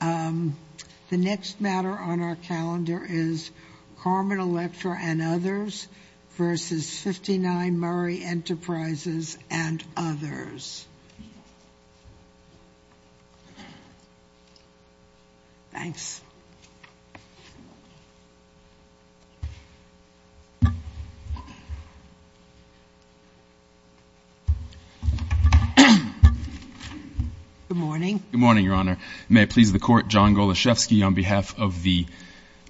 The next matter on our calendar is Carmen Electra and Others v. 59 Murray Enterprises and Others. Thanks. Good morning. Good morning, Your Honor. May it please the Court, John Goloszewski on behalf of the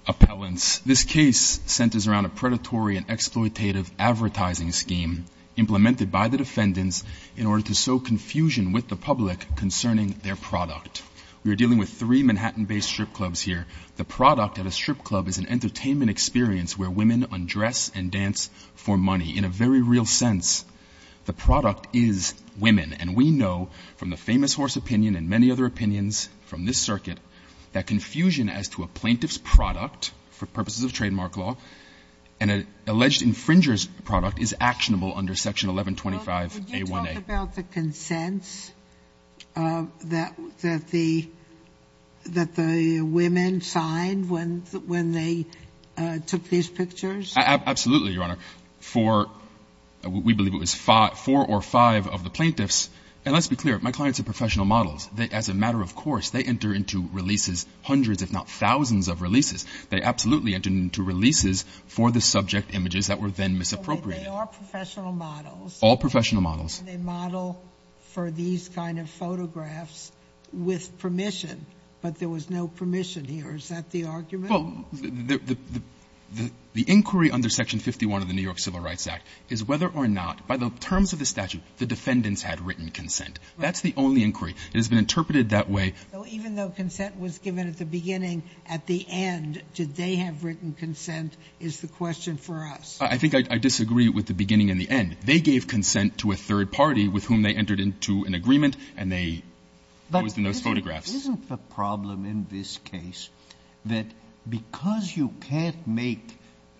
appellants. This case centers around a predatory and exploitative advertising scheme implemented by the defendants in order to sow confusion with the public concerning their product. We are dealing with three Manhattan-based strip clubs here. The product at a strip club is an entertainment experience where women undress and dance for money. In a very real sense, the product is women, and we know from the famous horse opinion and many other opinions from this circuit that confusion as to a plaintiff's product for purposes of trademark law and an alleged infringer's product is actionable under Section 1125a1a. Would you talk about the consents that the women signed when they took these pictures? Absolutely, Your Honor. We believe it was four or five of the plaintiffs. And let's be clear, my clients are professional models. As a matter of course, they enter into releases, hundreds if not thousands of releases. They absolutely enter into releases for the subject images that were then misappropriated. They are professional models. All professional models. They model for these kind of photographs with permission, but there was no permission here. Is that the argument? Well, the inquiry under Section 51 of the New York Civil Rights Act is whether or not, by the terms of the statute, the defendants had written consent. That's the only inquiry. It has been interpreted that way. So even though consent was given at the beginning, at the end did they have written consent is the question for us? I think I disagree with the beginning and the end. They gave consent to a third party with whom they entered into an agreement, and they always did those photographs. Isn't the problem in this case that because you can't make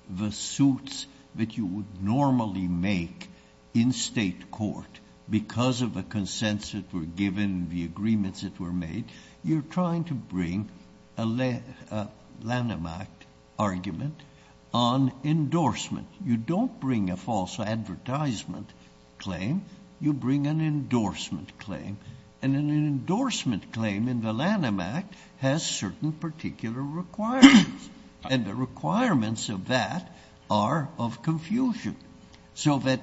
the suits that you would normally make in state court because of the consents that were given, the agreements that were made, you're trying to bring a Lanham Act argument on endorsement. You don't bring a false advertisement claim. You bring an endorsement claim. And an endorsement claim in the Lanham Act has certain particular requirements, and the requirements of that are of confusion. So that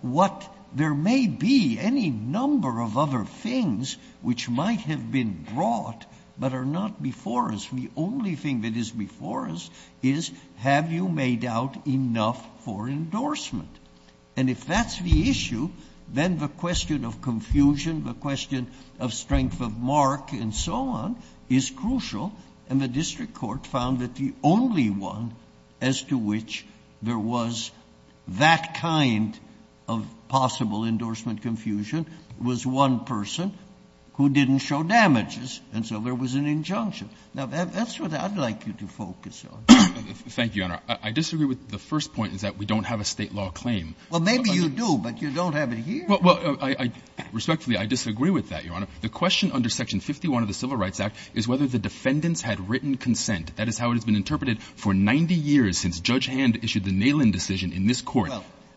what there may be any number of other things which might have been brought but are not before us, the only thing that is before us is have you made out enough for endorsement? And if that's the issue, then the question of confusion, the question of strength of mark and so on is crucial. And the district court found that the only one as to which there was that kind of possible endorsement confusion was one person who didn't show damages. And so there was an injunction. Now, that's what I'd like you to focus on. Thank you, Your Honor. I disagree with the first point is that we don't have a State law claim. Well, maybe you do, but you don't have it here. Well, respectfully, I disagree with that, Your Honor. The question under Section 51 of the Civil Rights Act is whether the defendants had written consent. That is how it has been interpreted for 90 years since Judge Hand issued the Nalin decision in this Court.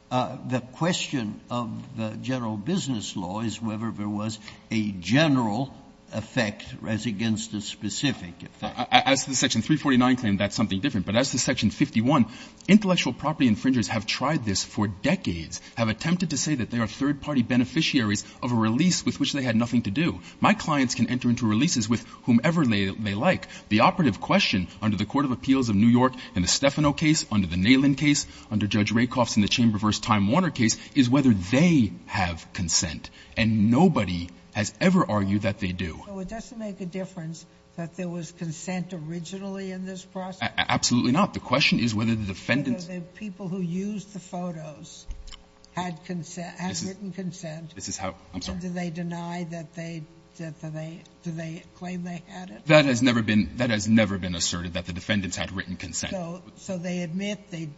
Well, the question of the general business law is whether there was a general effect as against a specific effect. As to the Section 349 claim, that's something different. But as to Section 51, intellectual property infringers have tried this for decades, have attempted to say that they are third-party beneficiaries of a release with which they had nothing to do. My clients can enter into releases with whomever they like. The operative question under the Court of Appeals of New York in the Stefano case, under the Nalin case, under Judge Rakoff's in the Chamber v. Time Warner case is whether they have consent. And nobody has ever argued that they do. So it doesn't make a difference that there was consent originally in this process? Absolutely not. The question is whether the defendants' ---- Whether the people who used the photos had written consent. This is how ---- I'm sorry. And do they deny that they, do they claim they had it? That has never been, that has never been asserted, that the defendants had written consent. So they admit they,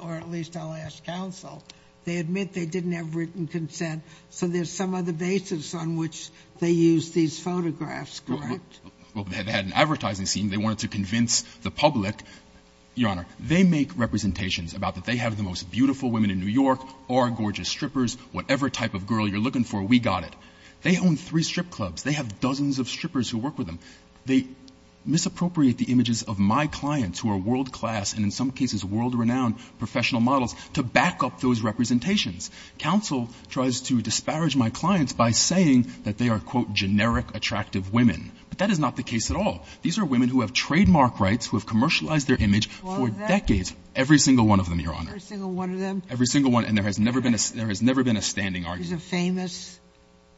or at least I'll ask counsel, they admit they didn't have written consent. So there's some other basis on which they used these photographs, correct? Well, they had an advertising scene. They wanted to convince the public. Your Honor, they make representations about that they have the most beautiful women in New York or gorgeous strippers, whatever type of girl you're looking for, we got it. They own three strip clubs. They have dozens of strippers who work with them. They misappropriate the images of my clients who are world-class and in some cases world-renowned professional models to back up those representations. Counsel tries to disparage my clients by saying that they are, quote, generic attractive women. But that is not the case at all. These are women who have trademark rights, who have commercialized their image for decades. Every single one of them, Your Honor. Every single one of them? Every single one. And there has never been a standing argument. Is a famous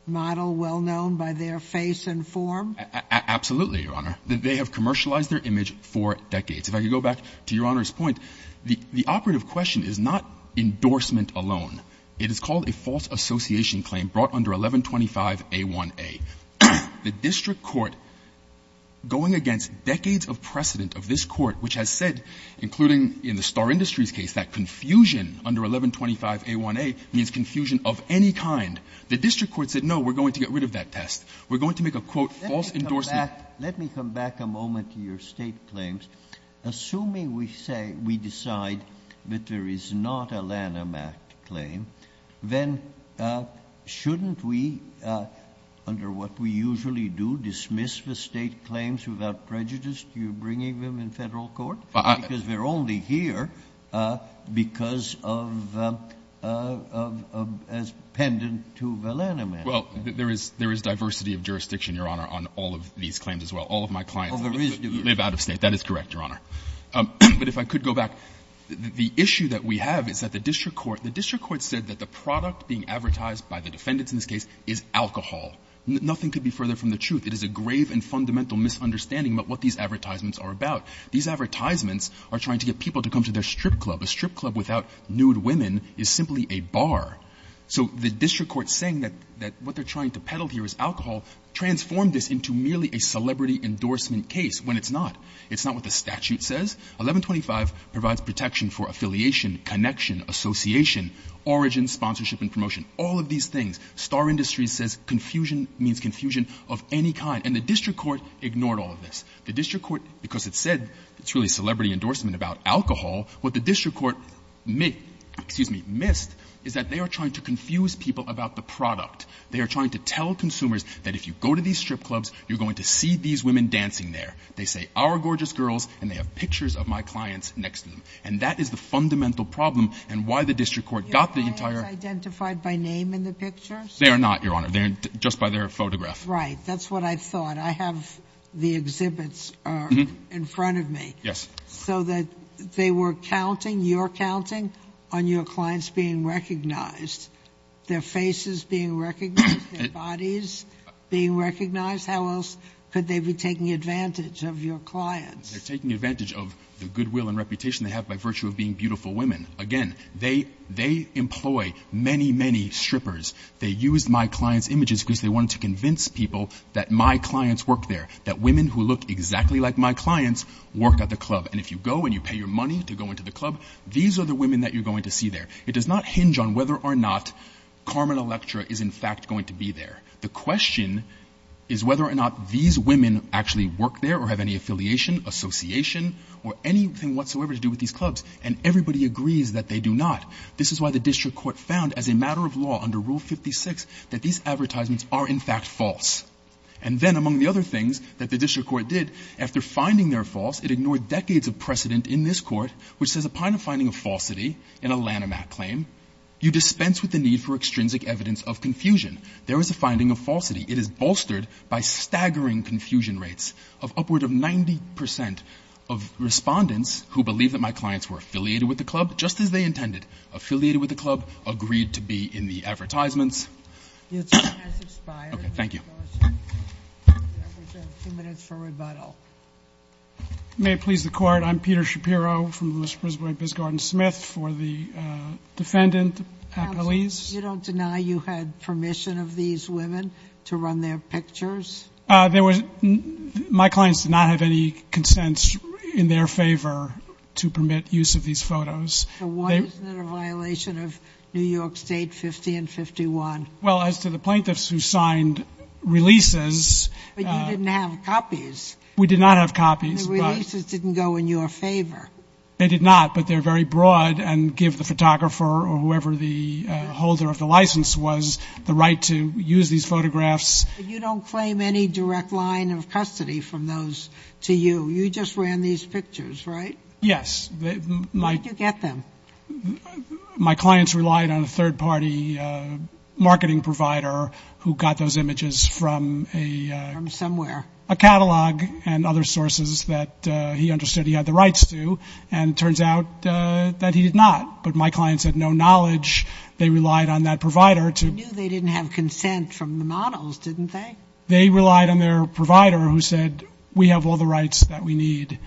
model well-known by their face and form? Absolutely, Your Honor. They have commercialized their image for decades. If I could go back to Your Honor's point, the operative question is not endorsement alone. It is called a false association claim brought under 1125a1a. The district court, going against decades of precedent of this court, which has said, including in the Star Industries case, that confusion under 1125a1a means confusion of any kind, the district court said, no, we're going to get rid of that test. We're going to make a, quote, false endorsement. Let me come back a moment to your State claims. Assuming we say, we decide that there is not a Lanham Act claim, then shouldn't we, under what we usually do, dismiss the State claims without prejudice? You're bringing them in Federal court? Because they're only here because of, as pendant to the Lanham Act. Well, there is diversity of jurisdiction, Your Honor, on all of these claims as well. All of my clients live out of State. That is correct, Your Honor. But if I could go back, the issue that we have is that the district court, the district court said that the product being advertised by the defendants in this case is alcohol. Nothing could be further from the truth. It is a grave and fundamental misunderstanding about what these advertisements are about. These advertisements are trying to get people to come to their strip club. A strip club without nude women is simply a bar. So the district court saying that what they're trying to peddle here is alcohol transformed this into merely a celebrity endorsement case, when it's not. It's not what the statute says. 1125 provides protection for affiliation, connection, association, origin, sponsorship and promotion, all of these things. Star Industries says confusion means confusion of any kind. And the district court ignored all of this. The district court, because it said it's really celebrity endorsement about alcohol, what the district court missed is that they are trying to confuse people about the product. They are trying to tell consumers that if you go to these strip clubs, you're going to see these women dancing there. They say, our gorgeous girls, and they have pictures of my clients next to them. And that is the fundamental problem and why the district court got the entire Your clients identified by name in the pictures? They are not, Your Honor. They are just by their photograph. Right. That's what I thought. I have the exhibits in front of me. Yes. So that they were counting, you're counting, on your clients being recognized, their faces being recognized, their bodies being recognized. How else could they be taking advantage of your clients? They are taking advantage of the goodwill and reputation they have by virtue of being beautiful women. Again, they employ many, many strippers. They used my clients' images because they wanted to convince people that my clients work there, that women who look exactly like my clients work at the club. And if you go and you pay your money to go into the club, these are the women that you're going to see there. It does not hinge on whether or not Carmen Electra is, in fact, going to be there. The question is whether or not these women actually work there or have any affiliation, association, or anything whatsoever to do with these clubs. And everybody agrees that they do not. This is why the district court found, as a matter of law under Rule 56, that these advertisements are, in fact, false. And then, among the other things that the district court did, after finding they're false, it ignored decades of precedent in this court, which says, upon a finding of falsity in a Lanham Act claim, you dispense with the need for extrinsic evidence of confusion. There is a finding of falsity. It is bolstered by staggering confusion rates of upward of 90 percent of respondents who believe that my clients were affiliated with the club, just as they intended, affiliated with the club, agreed to be in the advertisements. Okay. Thank you. That was a few minutes for rebuttal. May it please the Court. I'm Peter Shapiro from the Mississippi Bisgarden-Smith. For the defendant, please. You don't deny you had permission of these women to run their pictures? My clients did not have any consents in their favor to permit use of these photos. So why isn't it a violation of New York State 50 and 51? Well, as to the plaintiffs who signed releases. But you didn't have copies. We did not have copies. The releases didn't go in your favor. They did not, but they're very broad and give the photographer or whoever the holder of the license was the right to use these photographs. You don't claim any direct line of custody from those to you. You just ran these pictures, right? Yes. Where did you get them? My clients relied on a third-party marketing provider who got those images from a — From somewhere. A catalog and other sources that he understood he had the rights to. And it turns out that he did not. But my clients had no knowledge. They relied on that provider to — They knew they didn't have consent from the models, didn't they? They relied on their provider who said, we have all the rights that we need.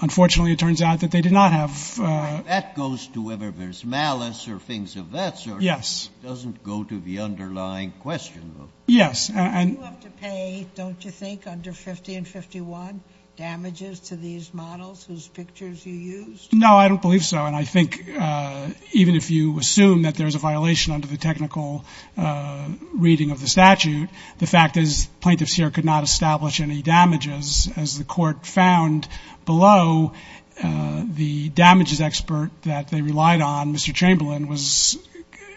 Unfortunately, it turns out that they did not have — That goes to whether there's malice or things of that sort. Yes. It doesn't go to the underlying question, though. Yes. You have to pay, don't you think, under 50 and 51 damages to these models whose pictures you used? No, I don't believe so. And I think even if you assume that there's a violation under the technical reading of the statute, the fact is plaintiffs here could not establish any damages. As the court found below, the damages expert that they relied on, Mr. Chamberlain, was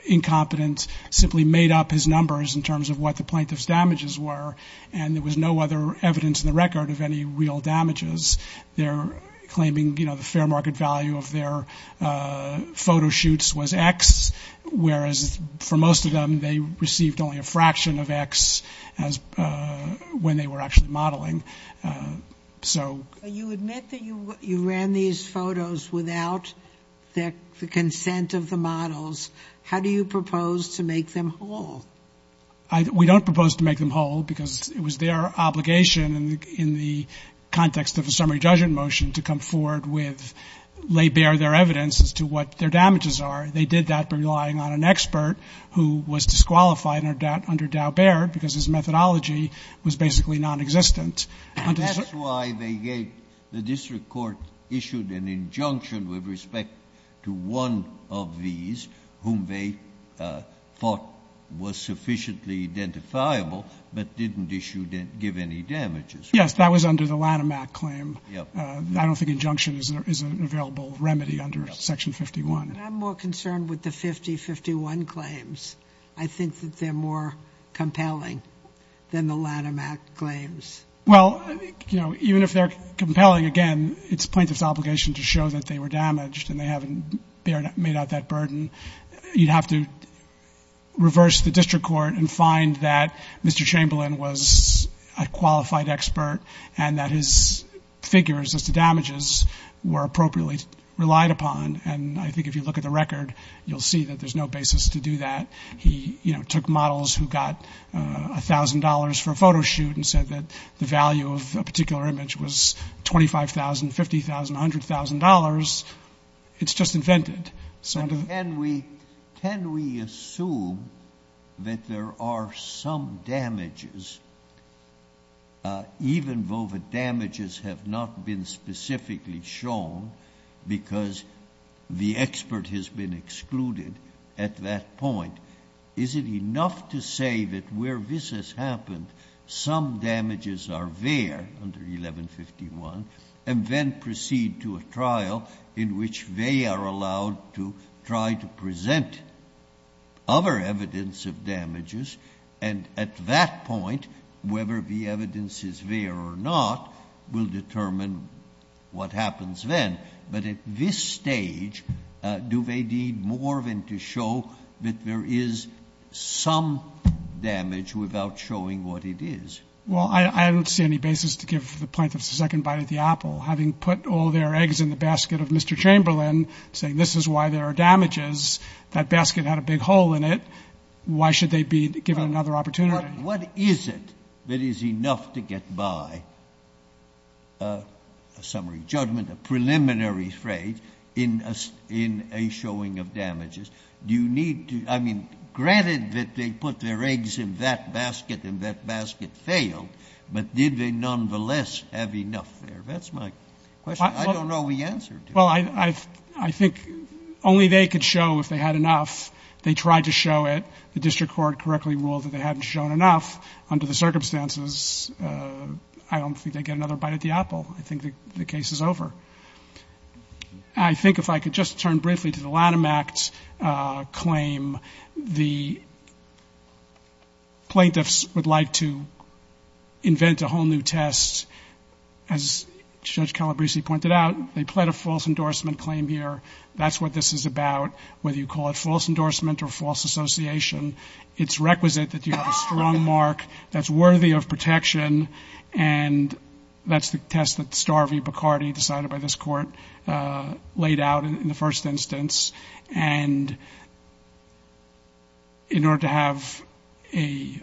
incompetent, simply made up his numbers in terms of what the plaintiff's damages were, and there was no other evidence in the record of any real damages. They're claiming, you know, the fair market value of their photo shoots was X, whereas for most of them they received only a fraction of X when they were actually modeling. So you admit that you ran these photos without the consent of the models. How do you propose to make them whole? We don't propose to make them whole because it was their obligation in the context of a summary judgment motion to come forward with — lay bare their evidence as to what their damages are. They did that by relying on an expert who was disqualified under Dow-Bear because his methodology was basically nonexistent. And that's why they gave — the district court issued an injunction with respect to one of these whom they thought was sufficiently identifiable but didn't issue — give any damages. Yes. That was under the Lanham Act claim. I don't think injunction is an available remedy under Section 51. I'm more concerned with the 5051 claims. I think that they're more compelling than the Lanham Act claims. Well, you know, even if they're compelling, again, it's plaintiff's obligation to show that they were damaged and they haven't made out that burden. You'd have to reverse the district court and find that Mr. Chamberlain was a qualified expert and that his figures as to damages were appropriately relied upon. And I think if you look at the record, you'll see that there's no basis to do that. He, you know, took models who got $1,000 for a photo shoot and said that the value of a particular image was $25,000, $50,000, $100,000. It's just invented. Can we assume that there are some damages, even though the damages have not been specifically shown because the expert has been excluded at that point? Is it enough to say that where this has happened, some damages are there under 1151 and then proceed to a trial in which they are allowed to try to present other evidence of damages and at that point, whether the evidence is there or not will determine what happens then. But at this stage, do they need more than to show that there is some damage without showing what it is? Well, I don't see any basis to give for the plaintiff's second bite at the apple. Having put all their eggs in the basket of Mr. Chamberlain, saying this is why there are damages, that basket had a big hole in it, why should they be given another opportunity? What is it that is enough to get by, a summary judgment, a preliminary phrase, in a showing of damages? Do you need to, I mean, granted that they put their eggs in that basket and that basket failed, but did they nonetheless have enough there? That's my question. I don't know the answer to it. Well, I think only they could show if they had enough. They tried to show it. The district court correctly ruled that they hadn't shown enough. Under the circumstances, I don't think they'd get another bite at the apple. I think the case is over. I think if I could just turn briefly to the Lanham Act claim, the plaintiffs would like to invent a whole new test. As Judge Calabresi pointed out, they pled a false endorsement claim here. That's what this is about, whether you call it false endorsement or false association. It's requisite that you have a strong mark that's worthy of protection, and that's the test that Starvey-Bacardi, decided by this court, laid out in the first instance. And in order to have a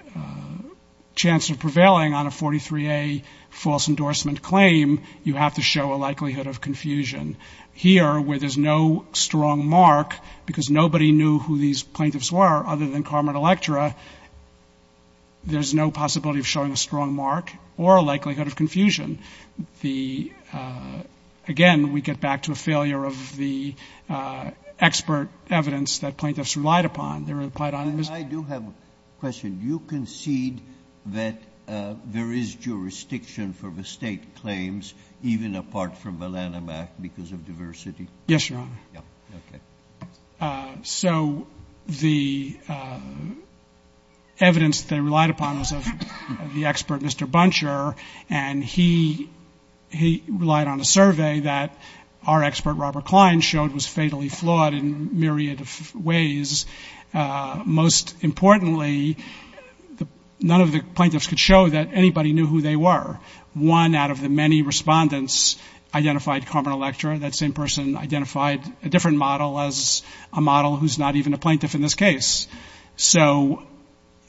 chance of prevailing on a 43A false endorsement claim, you have to show a likelihood of confusion. Here, where there's no strong mark, because nobody knew who these plaintiffs were other than Carmen Electra, there's no possibility of showing a strong mark or a likelihood of confusion. The — again, we get back to a failure of the expert evidence that plaintiffs relied upon. They relied on Mr. — And I do have a question. Do you concede that there is jurisdiction for the State claims, even apart from the Lanham Act, because of diversity? Yes, Your Honor. Okay. So the evidence that they relied upon was of the expert, Mr. Buncher, and he relied on a survey that our expert, Robert Klein, showed was fatally flawed in a myriad of ways. Most importantly, none of the plaintiffs could show that anybody knew who they were. One out of the many respondents identified Carmen Electra. That same person identified a different model as a model who's not even a plaintiff in this case. So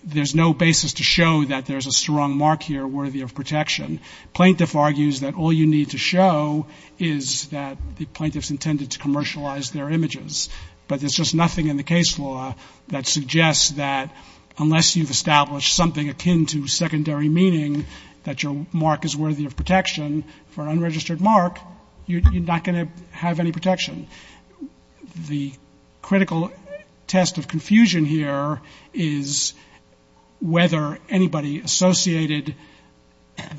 there's no basis to show that there's a strong mark here worthy of protection. Plaintiff argues that all you need to show is that the plaintiff's intended to commercialize their images. But there's just nothing in the case law that suggests that unless you've established something akin to secondary meaning that your mark is worthy of protection, for an unregistered mark, you're not going to have any protection. The critical test of confusion here is whether anybody associated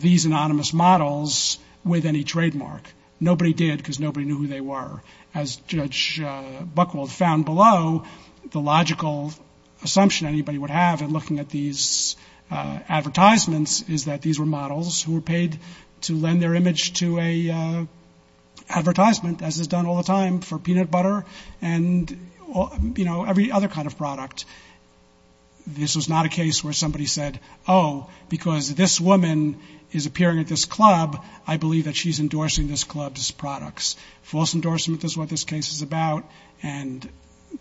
these anonymous models with any trademark. Nobody did because nobody knew who they were. As Judge Buchwald found below, the logical assumption anybody would have in looking at these advertisements is that these were models who were paid to lend their image to an advertisement, as is done all the time for peanut butter and every other kind of product. This was not a case where somebody said, oh, because this woman is appearing at this club, I believe that she's endorsing this club's products. False endorsement is what this case is about, and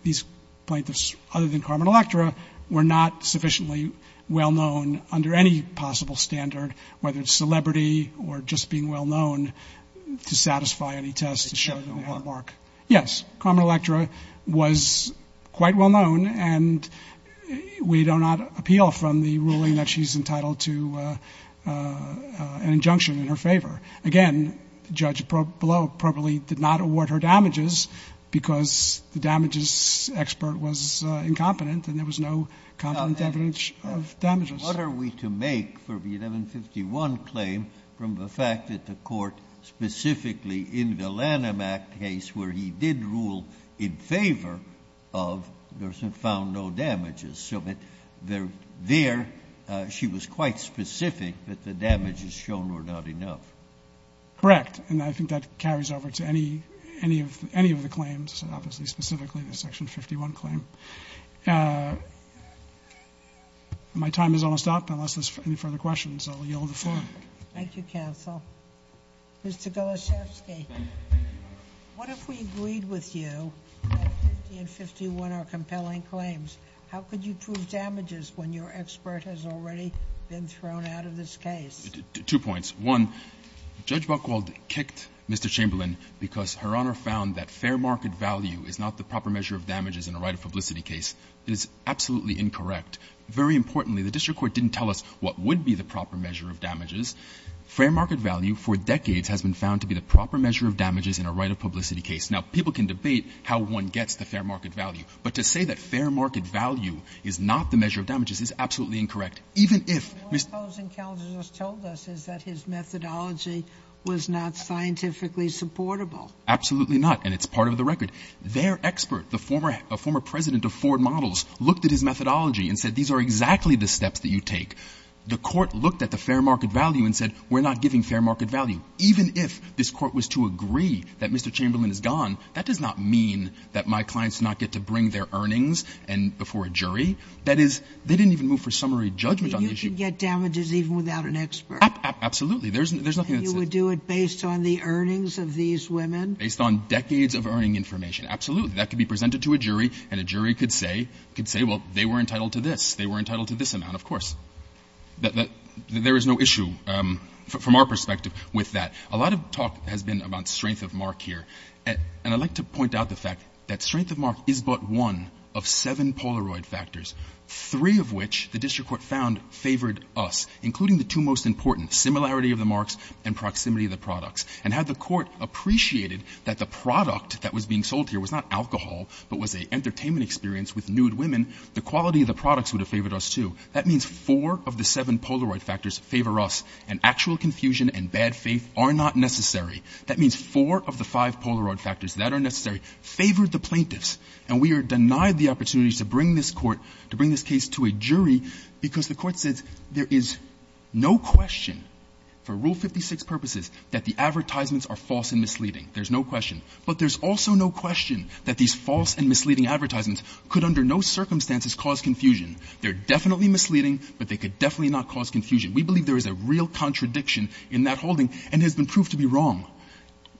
these plaintiffs, other than Carmen Electra, were not sufficiently well-known under any possible standard, whether it's celebrity or just being well-known, to satisfy any test to show the mark. Yes, Carmen Electra was quite well-known, and we do not appeal from the ruling that she's entitled to an injunction in her favor. Again, the judge below probably did not award her damages because the damages expert was incompetent and there was no confident evidence of damages. What are we to make for the 1151 claim from the fact that the court specifically in the Lanham Act case where he did rule in favor of, found no damages. So there she was quite specific that the damages shown were not enough. Correct. And I think that carries over to any of the claims, obviously specifically the Section 51 claim. My time is almost up. Unless there's any further questions, I'll yield the floor. Thank you, counsel. Mr. Golosiewski, what if we agreed with you that 50 and 51 are compelling claims? How could you prove damages when your expert has already been thrown out of this case? Two points. One, Judge Buchwald kicked Mr. Chamberlain because her Honor found that fair market value is not the proper measure of damages in a right-of-publicity case. It is absolutely incorrect. Very importantly, the district court didn't tell us what would be the proper measure of damages. Fair market value for decades has been found to be the proper measure of damages in a right-of-publicity case. Now, people can debate how one gets the fair market value, but to say that fair market value is not the measure of damages is absolutely incorrect, even if Mr. Chamberlain was not scientifically supportable. Absolutely not. And it's part of the record. Their expert, the former president of Ford Models, looked at his methodology and said, these are exactly the steps that you take. The court looked at the fair market value and said, we're not giving fair market value, even if this court was to agree that Mr. Chamberlain is gone. That does not mean that my clients do not get to bring their earnings before a jury. That is, they didn't even move for summary judgment on the issue. But you can get damages even without an expert. Absolutely. There's nothing that's said. And you would do it based on the earnings of these women? Based on decades of earning information, absolutely. That could be presented to a jury, and a jury could say, well, they were entitled to this. They were entitled to this amount, of course. There is no issue from our perspective with that. A lot of talk has been about strength of mark here. And I'd like to point out the fact that strength of mark is but one of seven Polaroid factors, three of which the district court found favored us, including the two most important, similarity of the marks and proximity of the products. And had the court appreciated that the product that was being sold here was not alcohol, but was an entertainment experience with nude women, the quality of the products would have favored us, too. That means four of the seven Polaroid factors favor us. And actual confusion and bad faith are not necessary. That means four of the five Polaroid factors that are necessary favored the plaintiffs. And we are denied the opportunity to bring this court, to bring this case to a jury, because the court says there is no question for Rule 56 purposes that the advertisements are false and misleading. There's no question. But there's also no question that these false and misleading advertisements could under no circumstances cause confusion. They're definitely misleading, but they could definitely not cause confusion. We believe there is a real contradiction in that holding and has been proved to be wrong.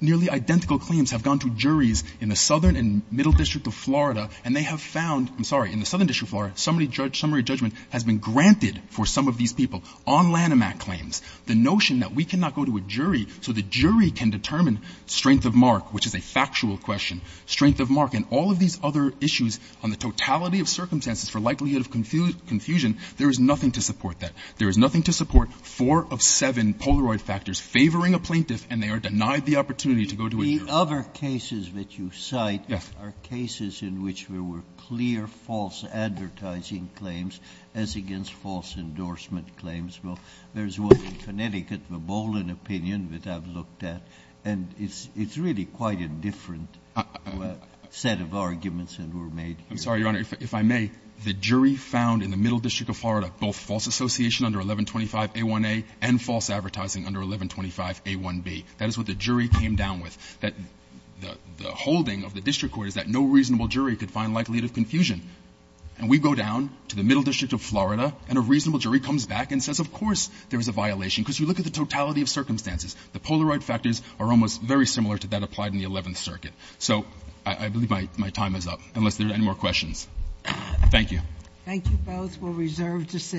Nearly identical claims have gone to juries in the Southern and Middle District of Florida, and they have found — I'm sorry, in the Southern District of Florida — summary judgment has been granted for some of these people on Lanham Act claims. The notion that we cannot go to a jury so the jury can determine strength of mark, which is a factual question, strength of mark, and all of these other issues on the totality of circumstances for likelihood of confusion, there is nothing to support that. There is nothing to support four of seven Polaroid factors favoring a plaintiff, and they are denied the opportunity to go to a jury. Sotomayor, the other cases that you cite are cases in which there were clear false advertising claims as against false endorsement claims. Well, there's one in Connecticut, the Bolin opinion, that I've looked at, and it's really quite a different set of arguments that were made. I'm sorry, Your Honor. If I may, the jury found in the Middle District of Florida both false association under 1125a1a and false advertising under 1125a1b. That is what the jury came down with. The holding of the district court is that no reasonable jury could find likelihood of confusion. And we go down to the Middle District of Florida, and a reasonable jury comes back and says, of course there is a violation, because you look at the totality of circumstances. The Polaroid factors are almost very similar to that applied in the Eleventh Circuit. So I believe my time is up, unless there are any more questions. Thank you. Thank you both. We're reserved to sit.